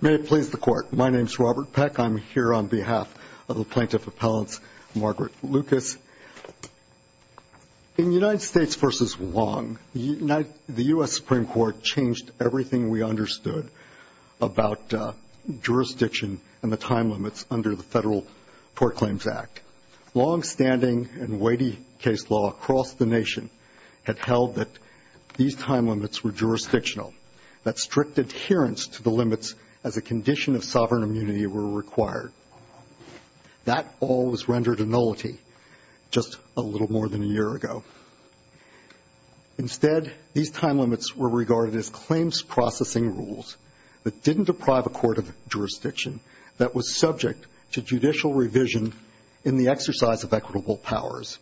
May it please the Court. My name is Robert Peck. I'm here on behalf of the Plaintiff Appellants, Margaret Lucas. In United States v. Wong, the U.S. Supreme Court changed everything we understood about jurisdiction and the time limits under the Federal Court Claims Act. Longstanding and weighty case law across the nation had held that these time limits were limits as a condition of sovereign immunity were required. That all was rendered a nullity just a little more than a year ago. Instead, these time limits were regarded as claims processing rules that didn't deprive a court of jurisdiction that was subject to judicial revision in the exercise of equitable powers.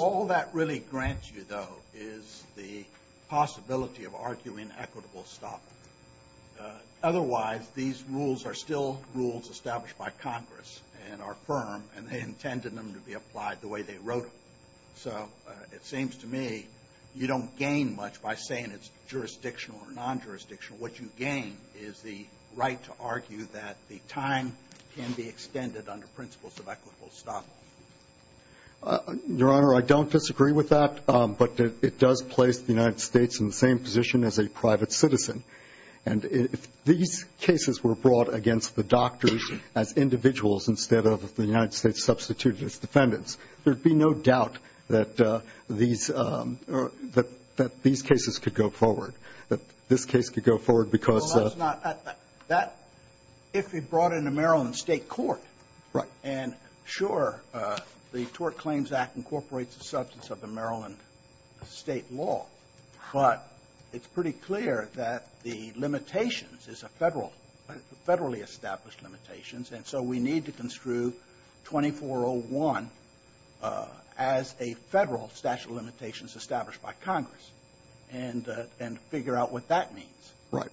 All that really grants you, though, is the possibility of arguing equitable stopping. Otherwise, these rules are still rules established by Congress and our firm, and they intended them to be applied the way they wrote them. So it seems to me you don't gain much by saying it's jurisdictional or non-jurisdictional. What you gain is the right to argue that the time can be extended under principles of equitable stopping. Your Honor, I don't disagree with that, but it does place the United States in the same position as a private citizen. And if these cases were brought against the doctors as individuals instead of the United States substituted as defendants, there would be no doubt that these or that these cases could go forward, that this case could go forward because of the ---- Well, that's not that. If you brought it into Maryland State court. Right. And, sure, the Tort Claims Act incorporates the substance of the Maryland State law, but it's pretty clear that the limitations is a Federal, Federally established limitations, and so we need to construe 2401 as a Federal statute of limitations established by Congress and figure out what that means. Right.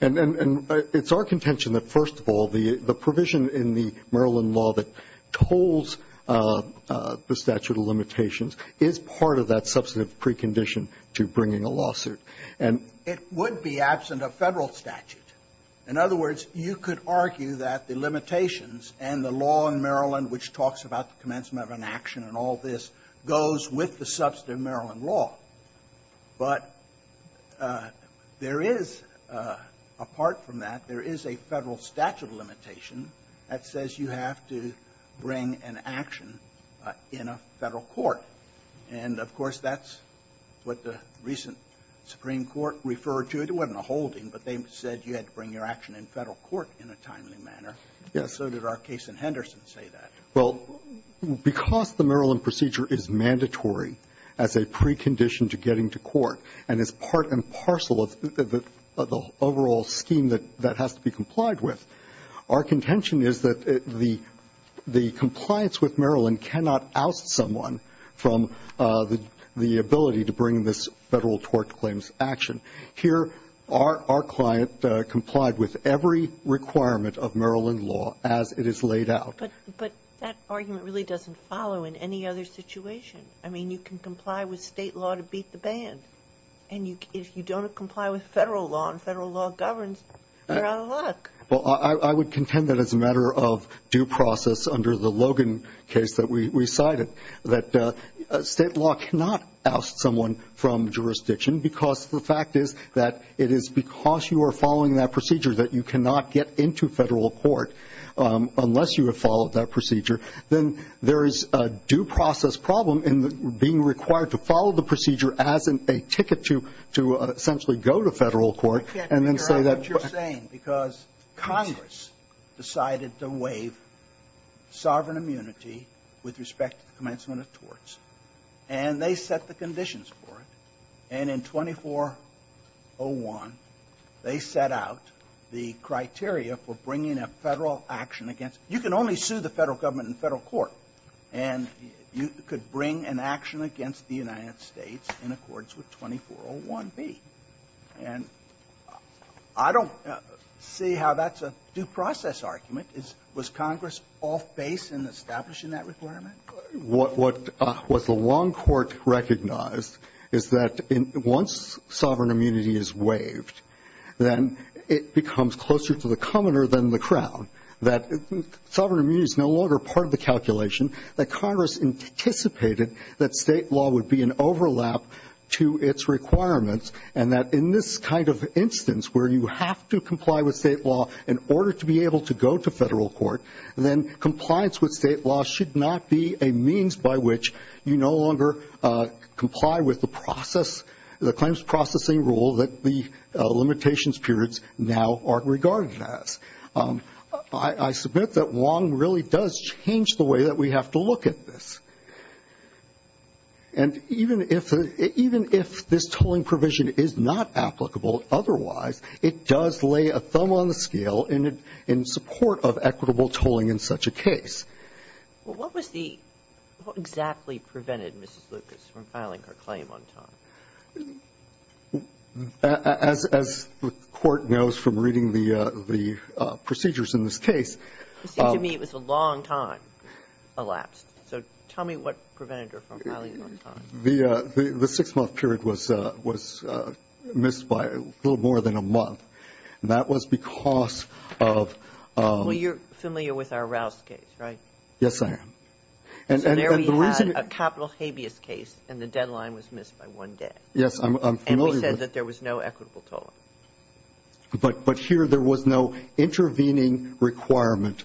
And it's our contention that, first of all, the provision in the Maryland law that tolls the statute of limitations is part of that substantive precondition to bringing a lawsuit. And ---- It would be absent of Federal statute. In other words, you could argue that the limitations and the law in Maryland, which talks about the commencement of an action and all this, goes with the substantive Maryland law, but there is, apart from that, there is a Federal statute of limitation that says you have to bring an action in a Federal court. And, of course, that's what the recent Supreme Court referred to. It wasn't a holding, but they said you had to bring your action in Federal court in a timely manner. Yes. So did our case in Henderson say that? Well, because the Maryland procedure is mandatory as a precondition to getting to court and is part and parcel of the overall scheme that has to be complied with, our contention is that the compliance with Maryland cannot oust someone from the ability to bring this Federal tort claims action. Here, our client complied with every requirement of Maryland law as it is laid out. But that argument really doesn't follow in any other situation. I mean, you can comply with State law to beat the band, and if you don't comply with Federal law and Federal law governs, you're out of luck. Well, I would contend that as a matter of due process under the Logan case that we cited, that State law cannot oust someone from jurisdiction because the fact is that it is because you are following that procedure that you cannot get into Federal court unless you have followed that procedure, then there is a due process problem in being required to follow the procedure as a ticket to essentially go to Federal court. I can't figure out what you're saying because Congress decided to waive sovereign immunity with respect to the commencement of torts, and they set the conditions for it, and in 2401, they set out the criteria for bringing a Federal action against you can only sue the Federal government in Federal court, and you could bring an action against the United States in accordance with 2401B. And I don't see how that's a due process argument. Was Congress off-base in establishing that requirement? What the long court recognized is that once sovereign immunity is waived, then it becomes closer to the commoner than the Crown, that sovereign immunity is no longer part of the calculation, that Congress anticipated that State law would be an overlap to its requirements, and that in this kind of instance where you have to comply with State law in order to be able to go to Federal court, then compliance with State law should not be a means by which you no longer comply with the process, the claims processing rule that the limitations periods now are regarded as. I submit that Wong really does change the way that we have to look at this. And even if this tolling provision is not applicable otherwise, it does lay a thumb on the scale in support of equitable tolling in such a case. Well, what was the – what exactly prevented Mrs. Lucas from filing her claim on time? As the Court knows from reading the procedures in this case – To me, it was a long time elapsed. So tell me what prevented her from filing on time. The six-month period was missed by a little more than a month. That was because of – Well, you're familiar with our Rouse case, right? Yes, I am. And there we had a capital habeas case, and the deadline was missed by one day. Yes, I'm familiar with – And we said that there was no equitable tolling. But here, there was no intervening requirement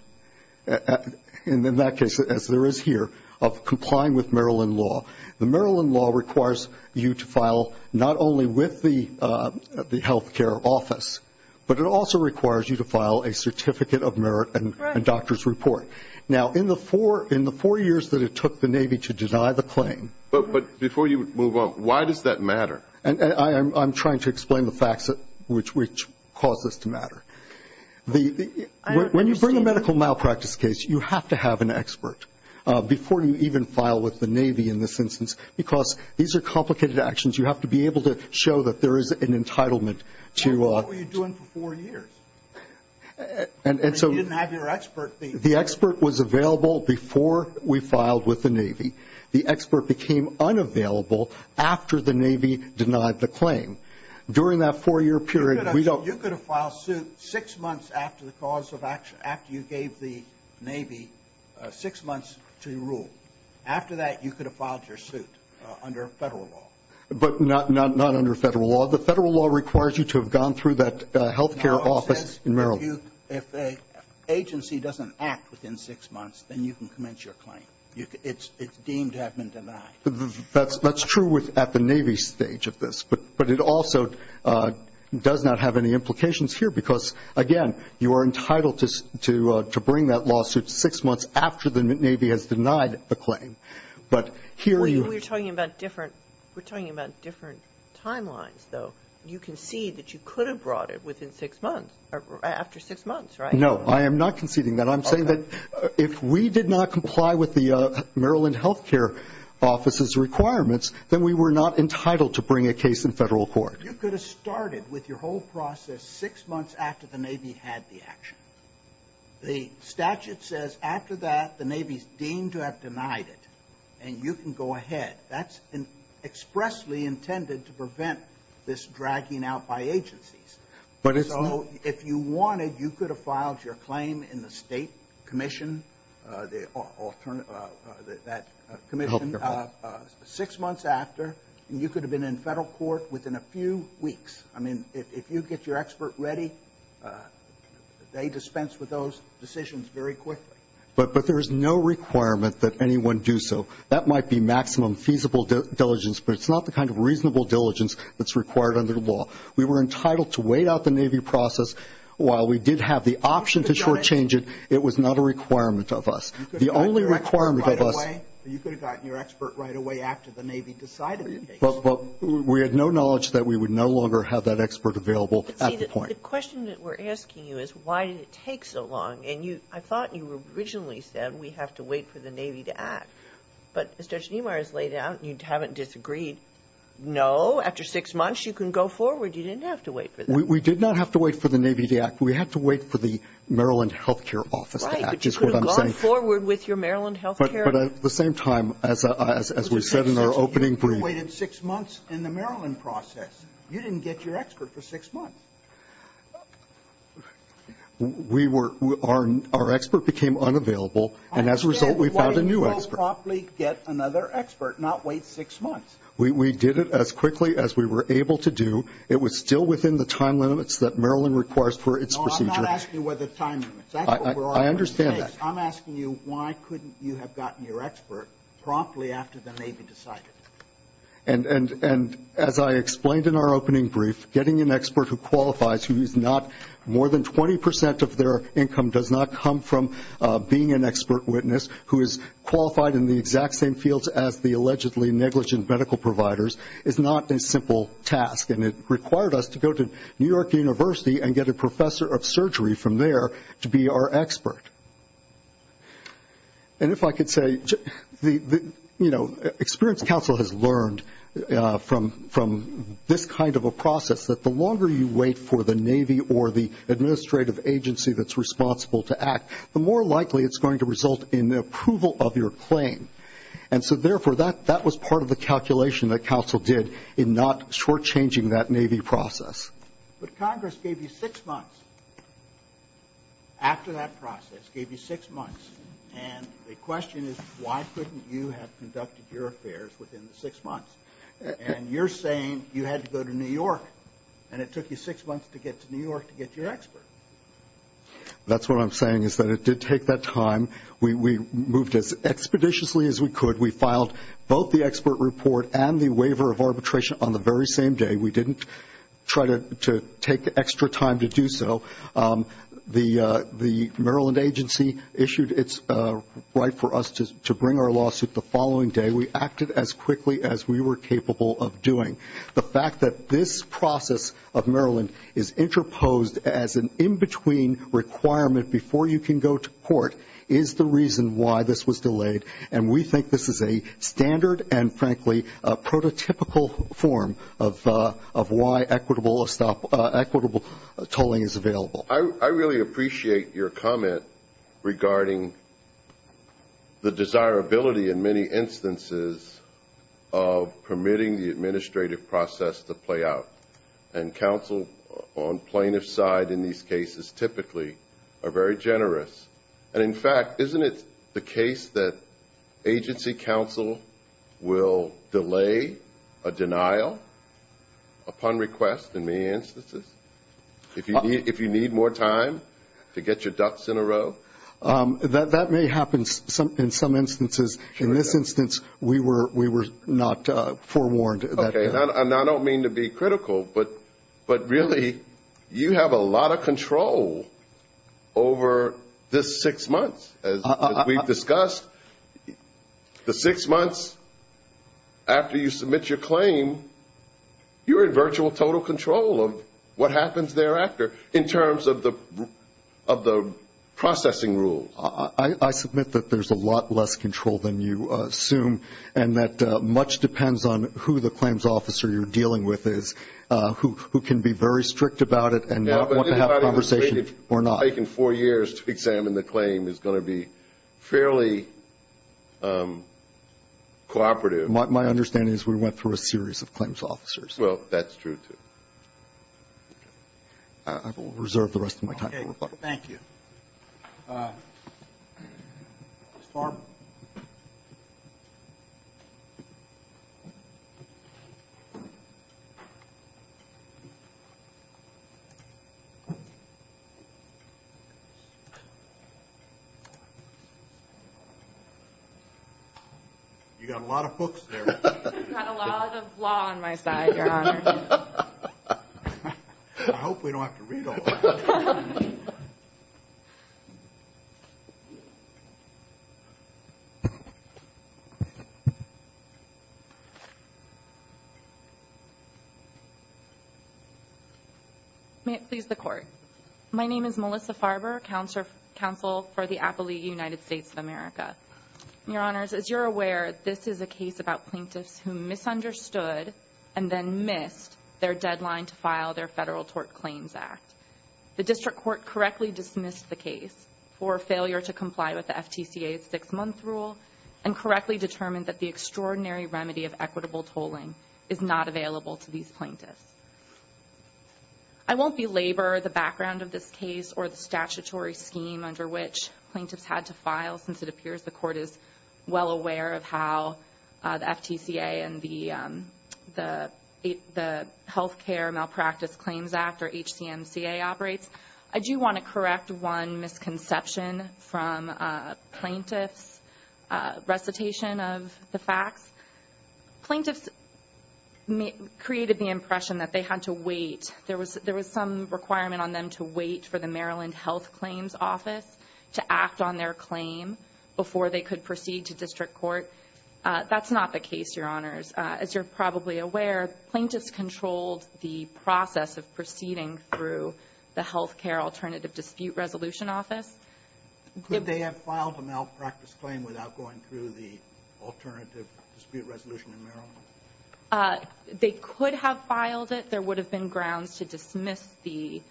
in that case, as there is here, of complying with Maryland law. The Maryland law requires you to file not only with the health care office, but it also requires you to file a certificate of merit and doctor's report. Now, in the four years that it took the Navy to deny the claim – But before you move on, why does that matter? And I'm trying to explain the facts which cause this to matter. When you bring a medical malpractice case, you have to have an expert before you even file with the Navy in this instance, because these are complicated actions. You have to be able to show that there is an entitlement to – What were you doing for four years? And so – You didn't have your expert. The expert was available before we filed with the Navy. The expert became unavailable after the Navy denied the claim. During that four-year period, we don't – You could have filed suit six months after the cause of – after you gave the Navy six months to rule. After that, you could have filed your suit under federal law. But not under federal law. The federal law requires you to have gone through that health care office in Maryland. If an agency doesn't act within six months, then you can commence your claim. It's deemed to have been denied. That's true at the Navy stage of this. But it also does not have any implications here because, again, you are entitled to bring that lawsuit six months after the Navy has denied the claim. But here you – We're talking about different timelines, though. You concede that you could have brought it within six months – after six months, right? No, I am not conceding that. I'm saying that if we did not comply with the Maryland health care office's requirements, then we were not entitled to bring a case in federal court. You could have started with your whole process six months after the Navy had the action. The statute says after that, the Navy is deemed to have denied it. And you can go ahead. That's expressly intended to prevent this dragging out by agencies. So if you wanted, you could have filed your claim in the state commission, that commission, six months after. And you could have been in federal court within a few weeks. I mean, if you get your expert ready, they dispense with those decisions very quickly. But there is no requirement that anyone do so. That might be maximum feasible diligence, but it's not the kind of reasonable diligence that's required under the law. We were entitled to wait out the Navy process. While we did have the option to shortchange it, it was not a requirement of us. You could have gotten your expert right away, or you could have gotten your expert right away after the Navy decided to take it. Well, we had no knowledge that we would no longer have that expert available at the point. The question that we're asking you is, why did it take so long? And I thought you originally said we have to wait for the Navy to act. But as Judge Niemeyer has laid out, you haven't disagreed. No. After six months, you can go forward. You didn't have to wait for that. We did not have to wait for the Navy to act. We had to wait for the Maryland Health Care Office to act, is what I'm saying. Right. But you could have gone forward with your Maryland health care. But at the same time, as we said in our opening brief — You waited six months in the Maryland process. You didn't get your expert for six months. We were — our expert became unavailable. And as a result, we found a new expert. I understand why you will probably get another expert, not wait six months. We did it as quickly as we were able to do. It was still within the time limits that Maryland requires for its procedure. No, I'm not asking you whether time limits. That's what we're asking. I understand that. I'm asking you, why couldn't you have gotten your expert promptly after the Navy decided? And as I explained in our opening brief, getting an expert who qualifies, who is not — more than 20 percent of their income does not come from being an expert witness, who is qualified in the exact same fields as the allegedly negligent medical providers, is not a simple task. And it required us to go to New York University and get a professor of surgery from there to be our expert. And if I could say — you know, experience counsel has learned from this kind of a process that the longer you wait for the Navy or the administrative agency that's responsible to act, the more likely it's going to result in the approval of your claim. And so, therefore, that was part of the calculation that counsel did in not shortchanging that Navy process. But Congress gave you six months. After that process, gave you six months. And the question is, why couldn't you have conducted your affairs within the six months? And you're saying you had to go to New York, and it took you six months to get to New York to get your expert. Well, that's what I'm saying, is that it did take that time. We moved as expeditiously as we could. We filed both the expert report and the waiver of arbitration on the very same day. We didn't try to take extra time to do so. The Maryland agency issued its right for us to bring our lawsuit the following day. We acted as quickly as we were capable of doing. The fact that this process of Maryland is interposed as an in-between requirement before you can go to court is the reason why this was delayed. And we think this is a standard and, frankly, prototypical form of why equitable tolling is available. I really appreciate your comment regarding the desirability in many instances of permitting the administrative process to play out. And counsel on plaintiff's side in these cases typically are very generous. And, in fact, isn't it the case that agency counsel will delay a denial upon request in many instances if you need more time to get your ducks in a row? That may happen in some instances. In this instance, we were not forewarned. Okay. And I don't mean to be critical, but really, you have a lot of control over this six months, as we've discussed. The six months after you submit your claim, you're in virtual total control of what happens thereafter in terms of the processing rules. I submit that there's a lot less control than you assume and that much depends on who the claims officer you're dealing with is, who can be very strict about it and not want to have a conversation or not. Anybody who's taken four years to examine the claim is going to be fairly cooperative. My understanding is we went through a series of claims officers. Well, that's true, too. I will reserve the rest of my time for Rebuttal. Thank you. Ms. Farber? You got a lot of books there. I've got a lot of law on my side, Your Honor. I hope we don't have to read all that. May it please the Court. My name is Melissa Farber, Counsel for the Appalachian United States of America. Your Honors, as you're aware, this is a case about plaintiffs who misunderstood and then missed their deadline to file their Federal Tort Claims Act. The District Court correctly dismissed the case for failure to comply with the FTCA's six-month rule and correctly determined that the extraordinary remedy of equitable tolling is not available to these plaintiffs. I won't belabor the background of this case or the statutory scheme under which plaintiffs had to file since it appears the Court is well aware of how the FTCA and the Health Care Malpractice Claims Act, or HCMCA, operates. I do want to correct one misconception from plaintiffs' recitation of the facts. Plaintiffs created the impression that they had to wait. There was some requirement on them to wait for the Maryland Health Claims Office to act on their claim before they could proceed to District Court. That's not the case, Your Honors. As you're probably aware, plaintiffs controlled the process of proceeding through the Health Care Alternative Dispute Resolution Office. Could they have filed a malpractice claim without going through the Alternative Dispute Resolution in Maryland? They could have filed it. There would have been grounds to dismiss the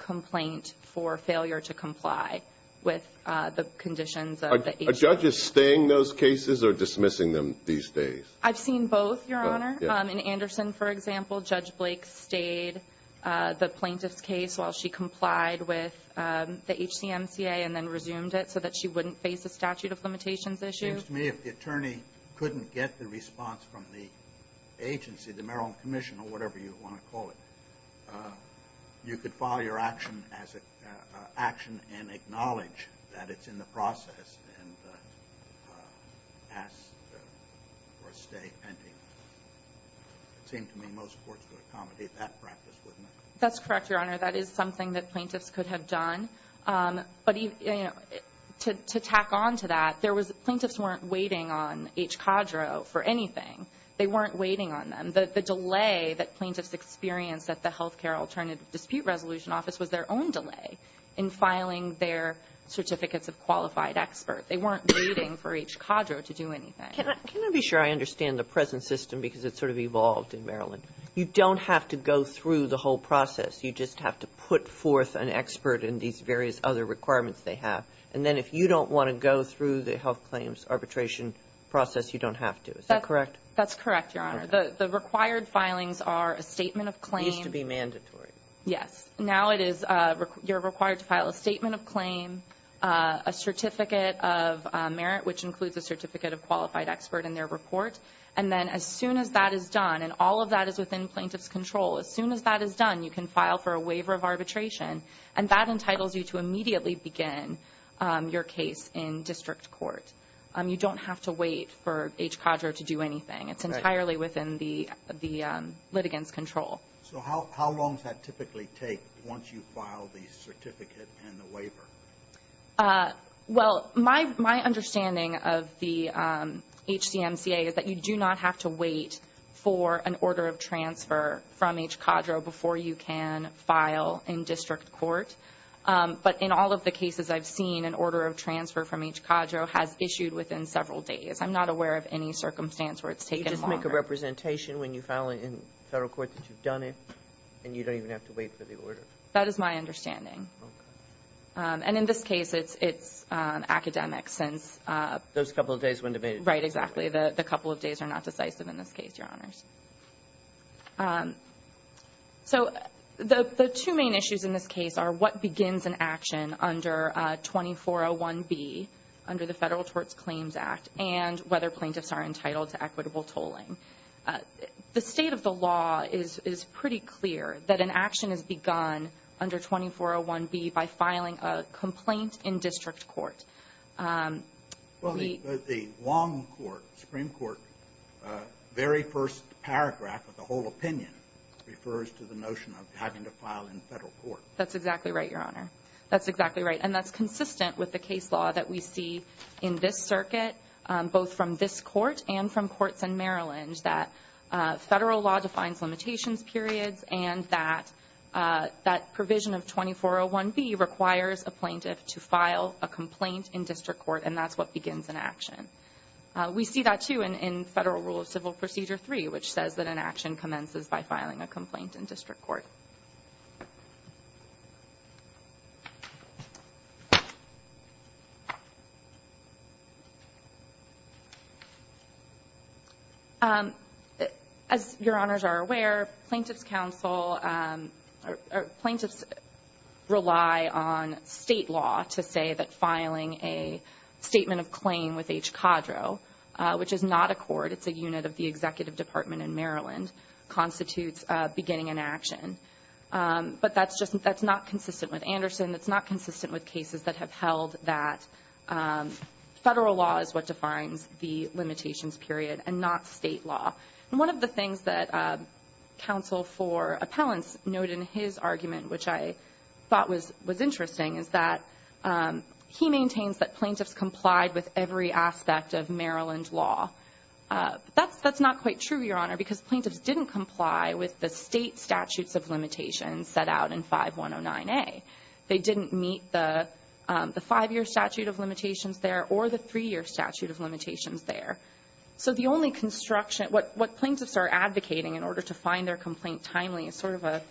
complaint for failure to comply with the conditions of the HCMCA. Are judges staying those cases or dismissing them these days? I've seen both, Your Honor. In Anderson, for example, Judge Blake stayed the plaintiff's case while she complied with the HCMCA and then resumed it so that she wouldn't face a statute of limitations issue. It seems to me if the attorney couldn't get the response from the agency, the Maryland Commission, or whatever you want to call it, you could file your action and acknowledge that it's in the process and ask for a stay pending. It seems to me most courts would accommodate that practice, wouldn't it? That's correct, Your Honor. That is something that plaintiffs could have done. But to tack on to that, there was plaintiffs weren't waiting on H. Cadre for anything. They weren't waiting on them. The delay that plaintiffs experienced at the Health Care Alternative Dispute Resolution Office was their own delay in filing their Certificates of Qualified Expert. They weren't waiting for H. Cadre to do anything. Can I be sure I understand the present system because it's sort of evolved in Maryland? You don't have to go through the whole process. You just have to put forth an expert in these various other requirements they have. And then if you don't want to go through the health claims arbitration process, you don't have to. Is that correct? That's correct, Your Honor. The required filings are a statement of claim. Used to be mandatory. Yes. Now you're required to file a statement of claim, a Certificate of Merit, which includes a Certificate of Qualified Expert in their report. And then as soon as that is done, and all of that is within plaintiff's control, as soon as that is done, you can file for a waiver of arbitration. And that entitles you to immediately begin your case in district court. You don't have to wait for H. Cadre to do anything. It's entirely within the litigants' control. So how long does that typically take once you file the certificate and the waiver? Well, my understanding of the HCMCA is that you do not have to wait for an order of transfer from H. Cadre before you can file in district court. But in all of the cases I've seen, an order of transfer from H. Cadre has issued within several days. I'm not aware of any circumstance where it's taken longer. You make a representation when you file in federal court that you've done it, and you don't even have to wait for the order. That is my understanding. And in this case, it's academic, since the couple of days are not decisive in this case, Your Honors. So the two main issues in this case are what begins an action under 2401B, under the Federal to equitable tolling. The state of the law is pretty clear that an action is begun under 2401B by filing a complaint in district court. Well, the long court, Supreme Court, very first paragraph of the whole opinion refers to the notion of having to file in federal court. That's exactly right, Your Honor. That's exactly right. And that's consistent with the case law that we see in this circuit, both from this court and from courts in Maryland, that federal law defines limitations periods and that provision of 2401B requires a plaintiff to file a complaint in district court, and that's what begins an action. We see that, too, in Federal Rule of Civil Procedure 3, which says that an action commences by filing a complaint in district court. As Your Honors are aware, plaintiff's counsel or plaintiffs rely on state law to say that filing a statement of claim with H. Cadro, which is not a court, it's a unit of the Executive Department in Maryland, constitutes a beginning an action. But that's just not consistent with Anderson. It's not consistent with cases that have held that federal law is what defines the limitations period and not state law. And one of the things that counsel for appellants note in his argument, which I thought was interesting, is that he maintains that plaintiffs complied with every aspect of Maryland law. That's not quite true, Your Honor, because plaintiffs didn't comply with the state statutes of limitations set out in 5109A. They didn't meet the five-year statute of limitations there or the three-year statute of limitations there. So the only construction, what plaintiffs are advocating in order to find their complaint timely is sort of a,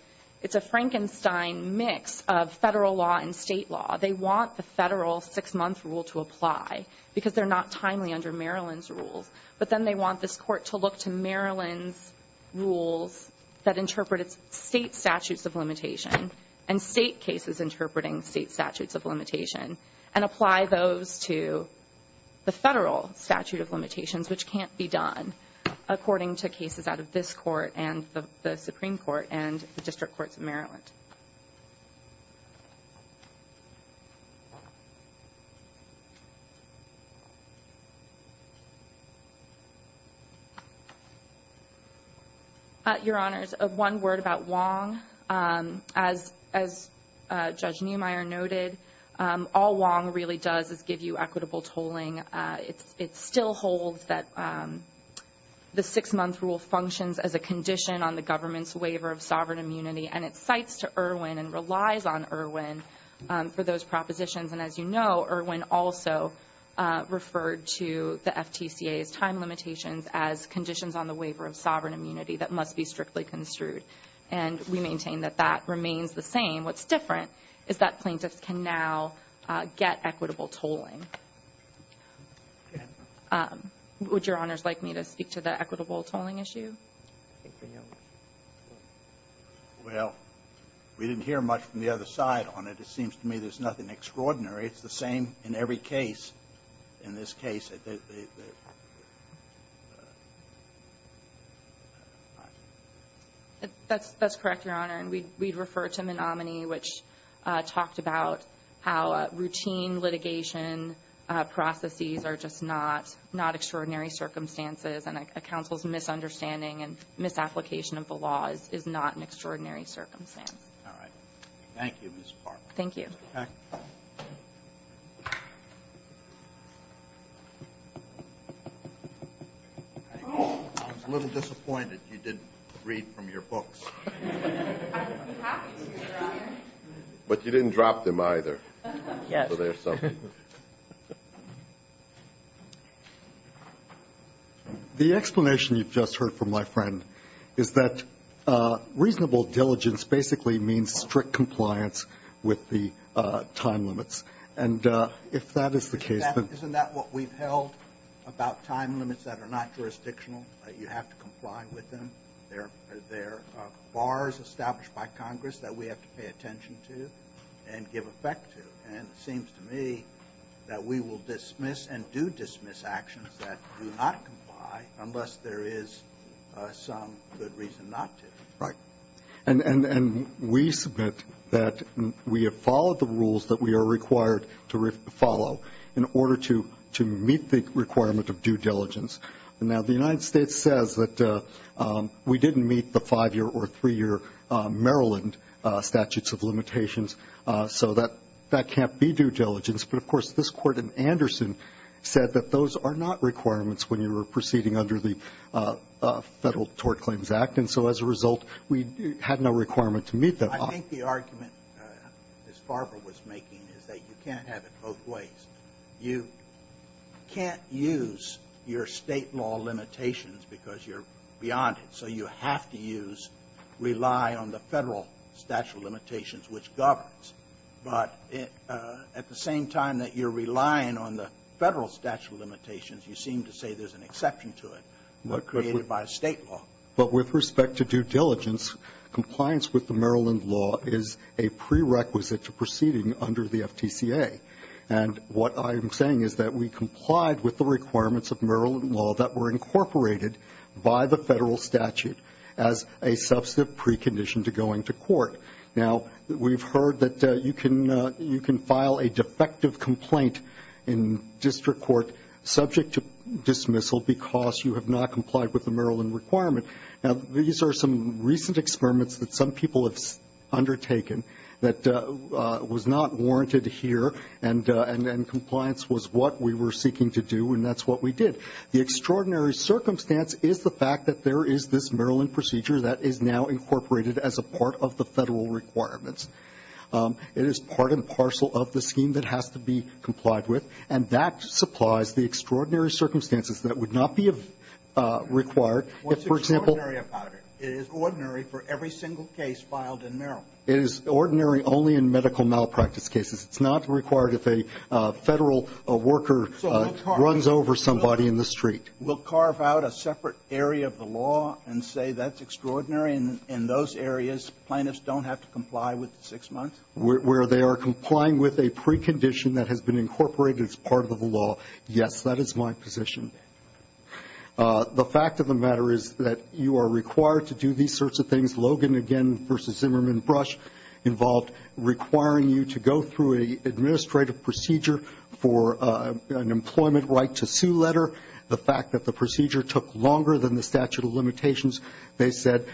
it's a Frankenstein mix of federal law and state law. They want the federal six-month rule to apply because they're not timely under Maryland's rules. But then they want this Court to look to Maryland's rules that interpret its state statutes of limitation and state cases interpreting state statutes of limitation and apply those to the federal statute of limitations, which can't be done according to cases out of this Court and the Supreme Court and the District Courts of Maryland. Your Honors, one word about Wong. As Judge Neumeier noted, all Wong really does is give you equitable tolling. It still holds that the six-month rule functions as a condition on the government's waiver of sovereign immunity, and it cites to Irwin and relies on Irwin for those propositions. And as you know, Irwin also referred to the FTCA as timely. And Irwin also referred to the FTCA's time limitations as conditions on the waiver of sovereign immunity that must be strictly construed. And we maintain that that remains the same. What's different is that plaintiffs can now get equitable tolling. Would Your Honors like me to speak to the equitable tolling issue? Well, we didn't hear much from the other side on it. It seems to me there's nothing extraordinary. It's the same in every case. In this case, it's the same. That's correct, Your Honor. And we'd refer to Menominee, which talked about how routine litigation processes are just not extraordinary circumstances. And a counsel's misunderstanding and misapplication of the law is not an extraordinary circumstance. All right. Thank you, Ms. Bartlett. Thank you. I was a little disappointed you didn't read from your books. I would be happy to, Your Honor. But you didn't drop them either. Yes. The explanation you've just heard from my friend is that reasonable diligence basically means strict compliance with the time limits. And if that is the case, then... Isn't that what we've held about time limits that are not jurisdictional? You have to comply with them. There are bars established by Congress that we have to pay attention to and give effect to. And it seems to me that we will dismiss and do dismiss actions that do not comply unless there is some good reason not to. Right. And we submit that we have followed the rules that we are required to follow in order to meet the requirement of due diligence. Now, the United States says that we didn't meet the five-year or three-year Maryland statutes of limitations, so that can't be due diligence. But, of course, this Court in Anderson said that those are not requirements when you are proceeding under the Federal Tort Claims Act. So as a result, we had no requirement to meet them. I think the argument Ms. Farber was making is that you can't have it both ways. You can't use your State law limitations because you're beyond it. So you have to use, rely on the Federal statute of limitations, which governs. But at the same time that you're relying on the Federal statute of limitations, you seem to say there's an exception to it created by State law. But with respect to due diligence, compliance with the Maryland law is a prerequisite to proceeding under the FTCA. And what I'm saying is that we complied with the requirements of Maryland law that were incorporated by the Federal statute as a substantive precondition to going to court. Now, we've heard that you can file a defective complaint in district court subject to dismissal because you have not complied with the Maryland requirement. Now, these are some recent experiments that some people have undertaken that was not warranted here, and compliance was what we were seeking to do, and that's what we did. The extraordinary circumstance is the fact that there is this Maryland procedure that is now incorporated as a part of the Federal requirements. It is part and parcel of the scheme that has to be complied with, and that supplies the extraordinary circumstances that would not be required if, for example ---- It's extraordinary about it. It is ordinary for every single case filed in Maryland. It is ordinary only in medical malpractice cases. It's not required if a Federal worker runs over somebody in the street. We'll carve out a separate area of the law and say that's extraordinary. And in those areas, plaintiffs don't have to comply with the six months? Where they are complying with a precondition that has been incorporated as part of the law, yes, that is my position. The fact of the matter is that you are required to do these sorts of things. Logan, again, v. Zimmerman, Brush, involved requiring you to go through an administrative procedure for an employment right to sue letter. The fact that the procedure took longer than the statute of limitations, they said,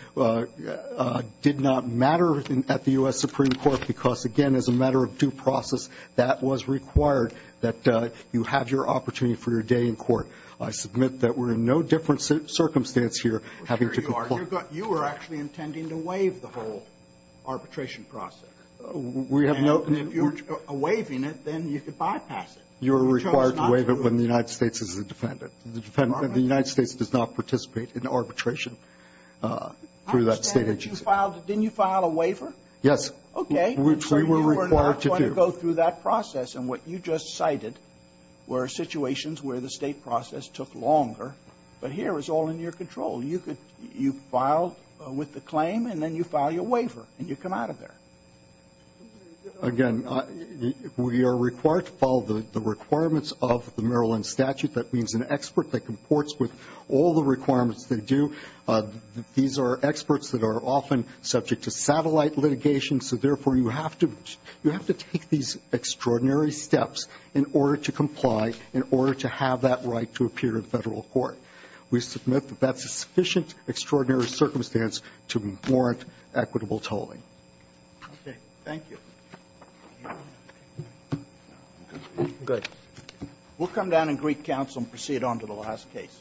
did not matter at the U.S. Supreme Court because, again, as a matter of due process, that was required that you have your opportunity for your day in court. I submit that we're in no different circumstance here having to comply. You were actually intending to waive the whole arbitration process. We have no ---- And if you're waiving it, then you could bypass it. You're required to waive it when the United States is a defendant. The United States does not participate in arbitration through that State agency. Didn't you file a waiver? Yes. Okay. Which we were required to do. Go through that process. And what you just cited were situations where the State process took longer. But here, it's all in your control. You could ---- you filed with the claim, and then you file your waiver, and you come out of there. Again, we are required to follow the requirements of the Maryland statute. That means an expert that comports with all the requirements they do. These are experts that are often subject to satellite litigation. So, therefore, you have to take these extraordinary steps in order to comply, in order to have that right to appear in Federal court. We submit that that's a sufficient extraordinary circumstance to warrant equitable tolling. Okay. Thank you. Good. We'll come down and greet counsel and proceed on to the last case.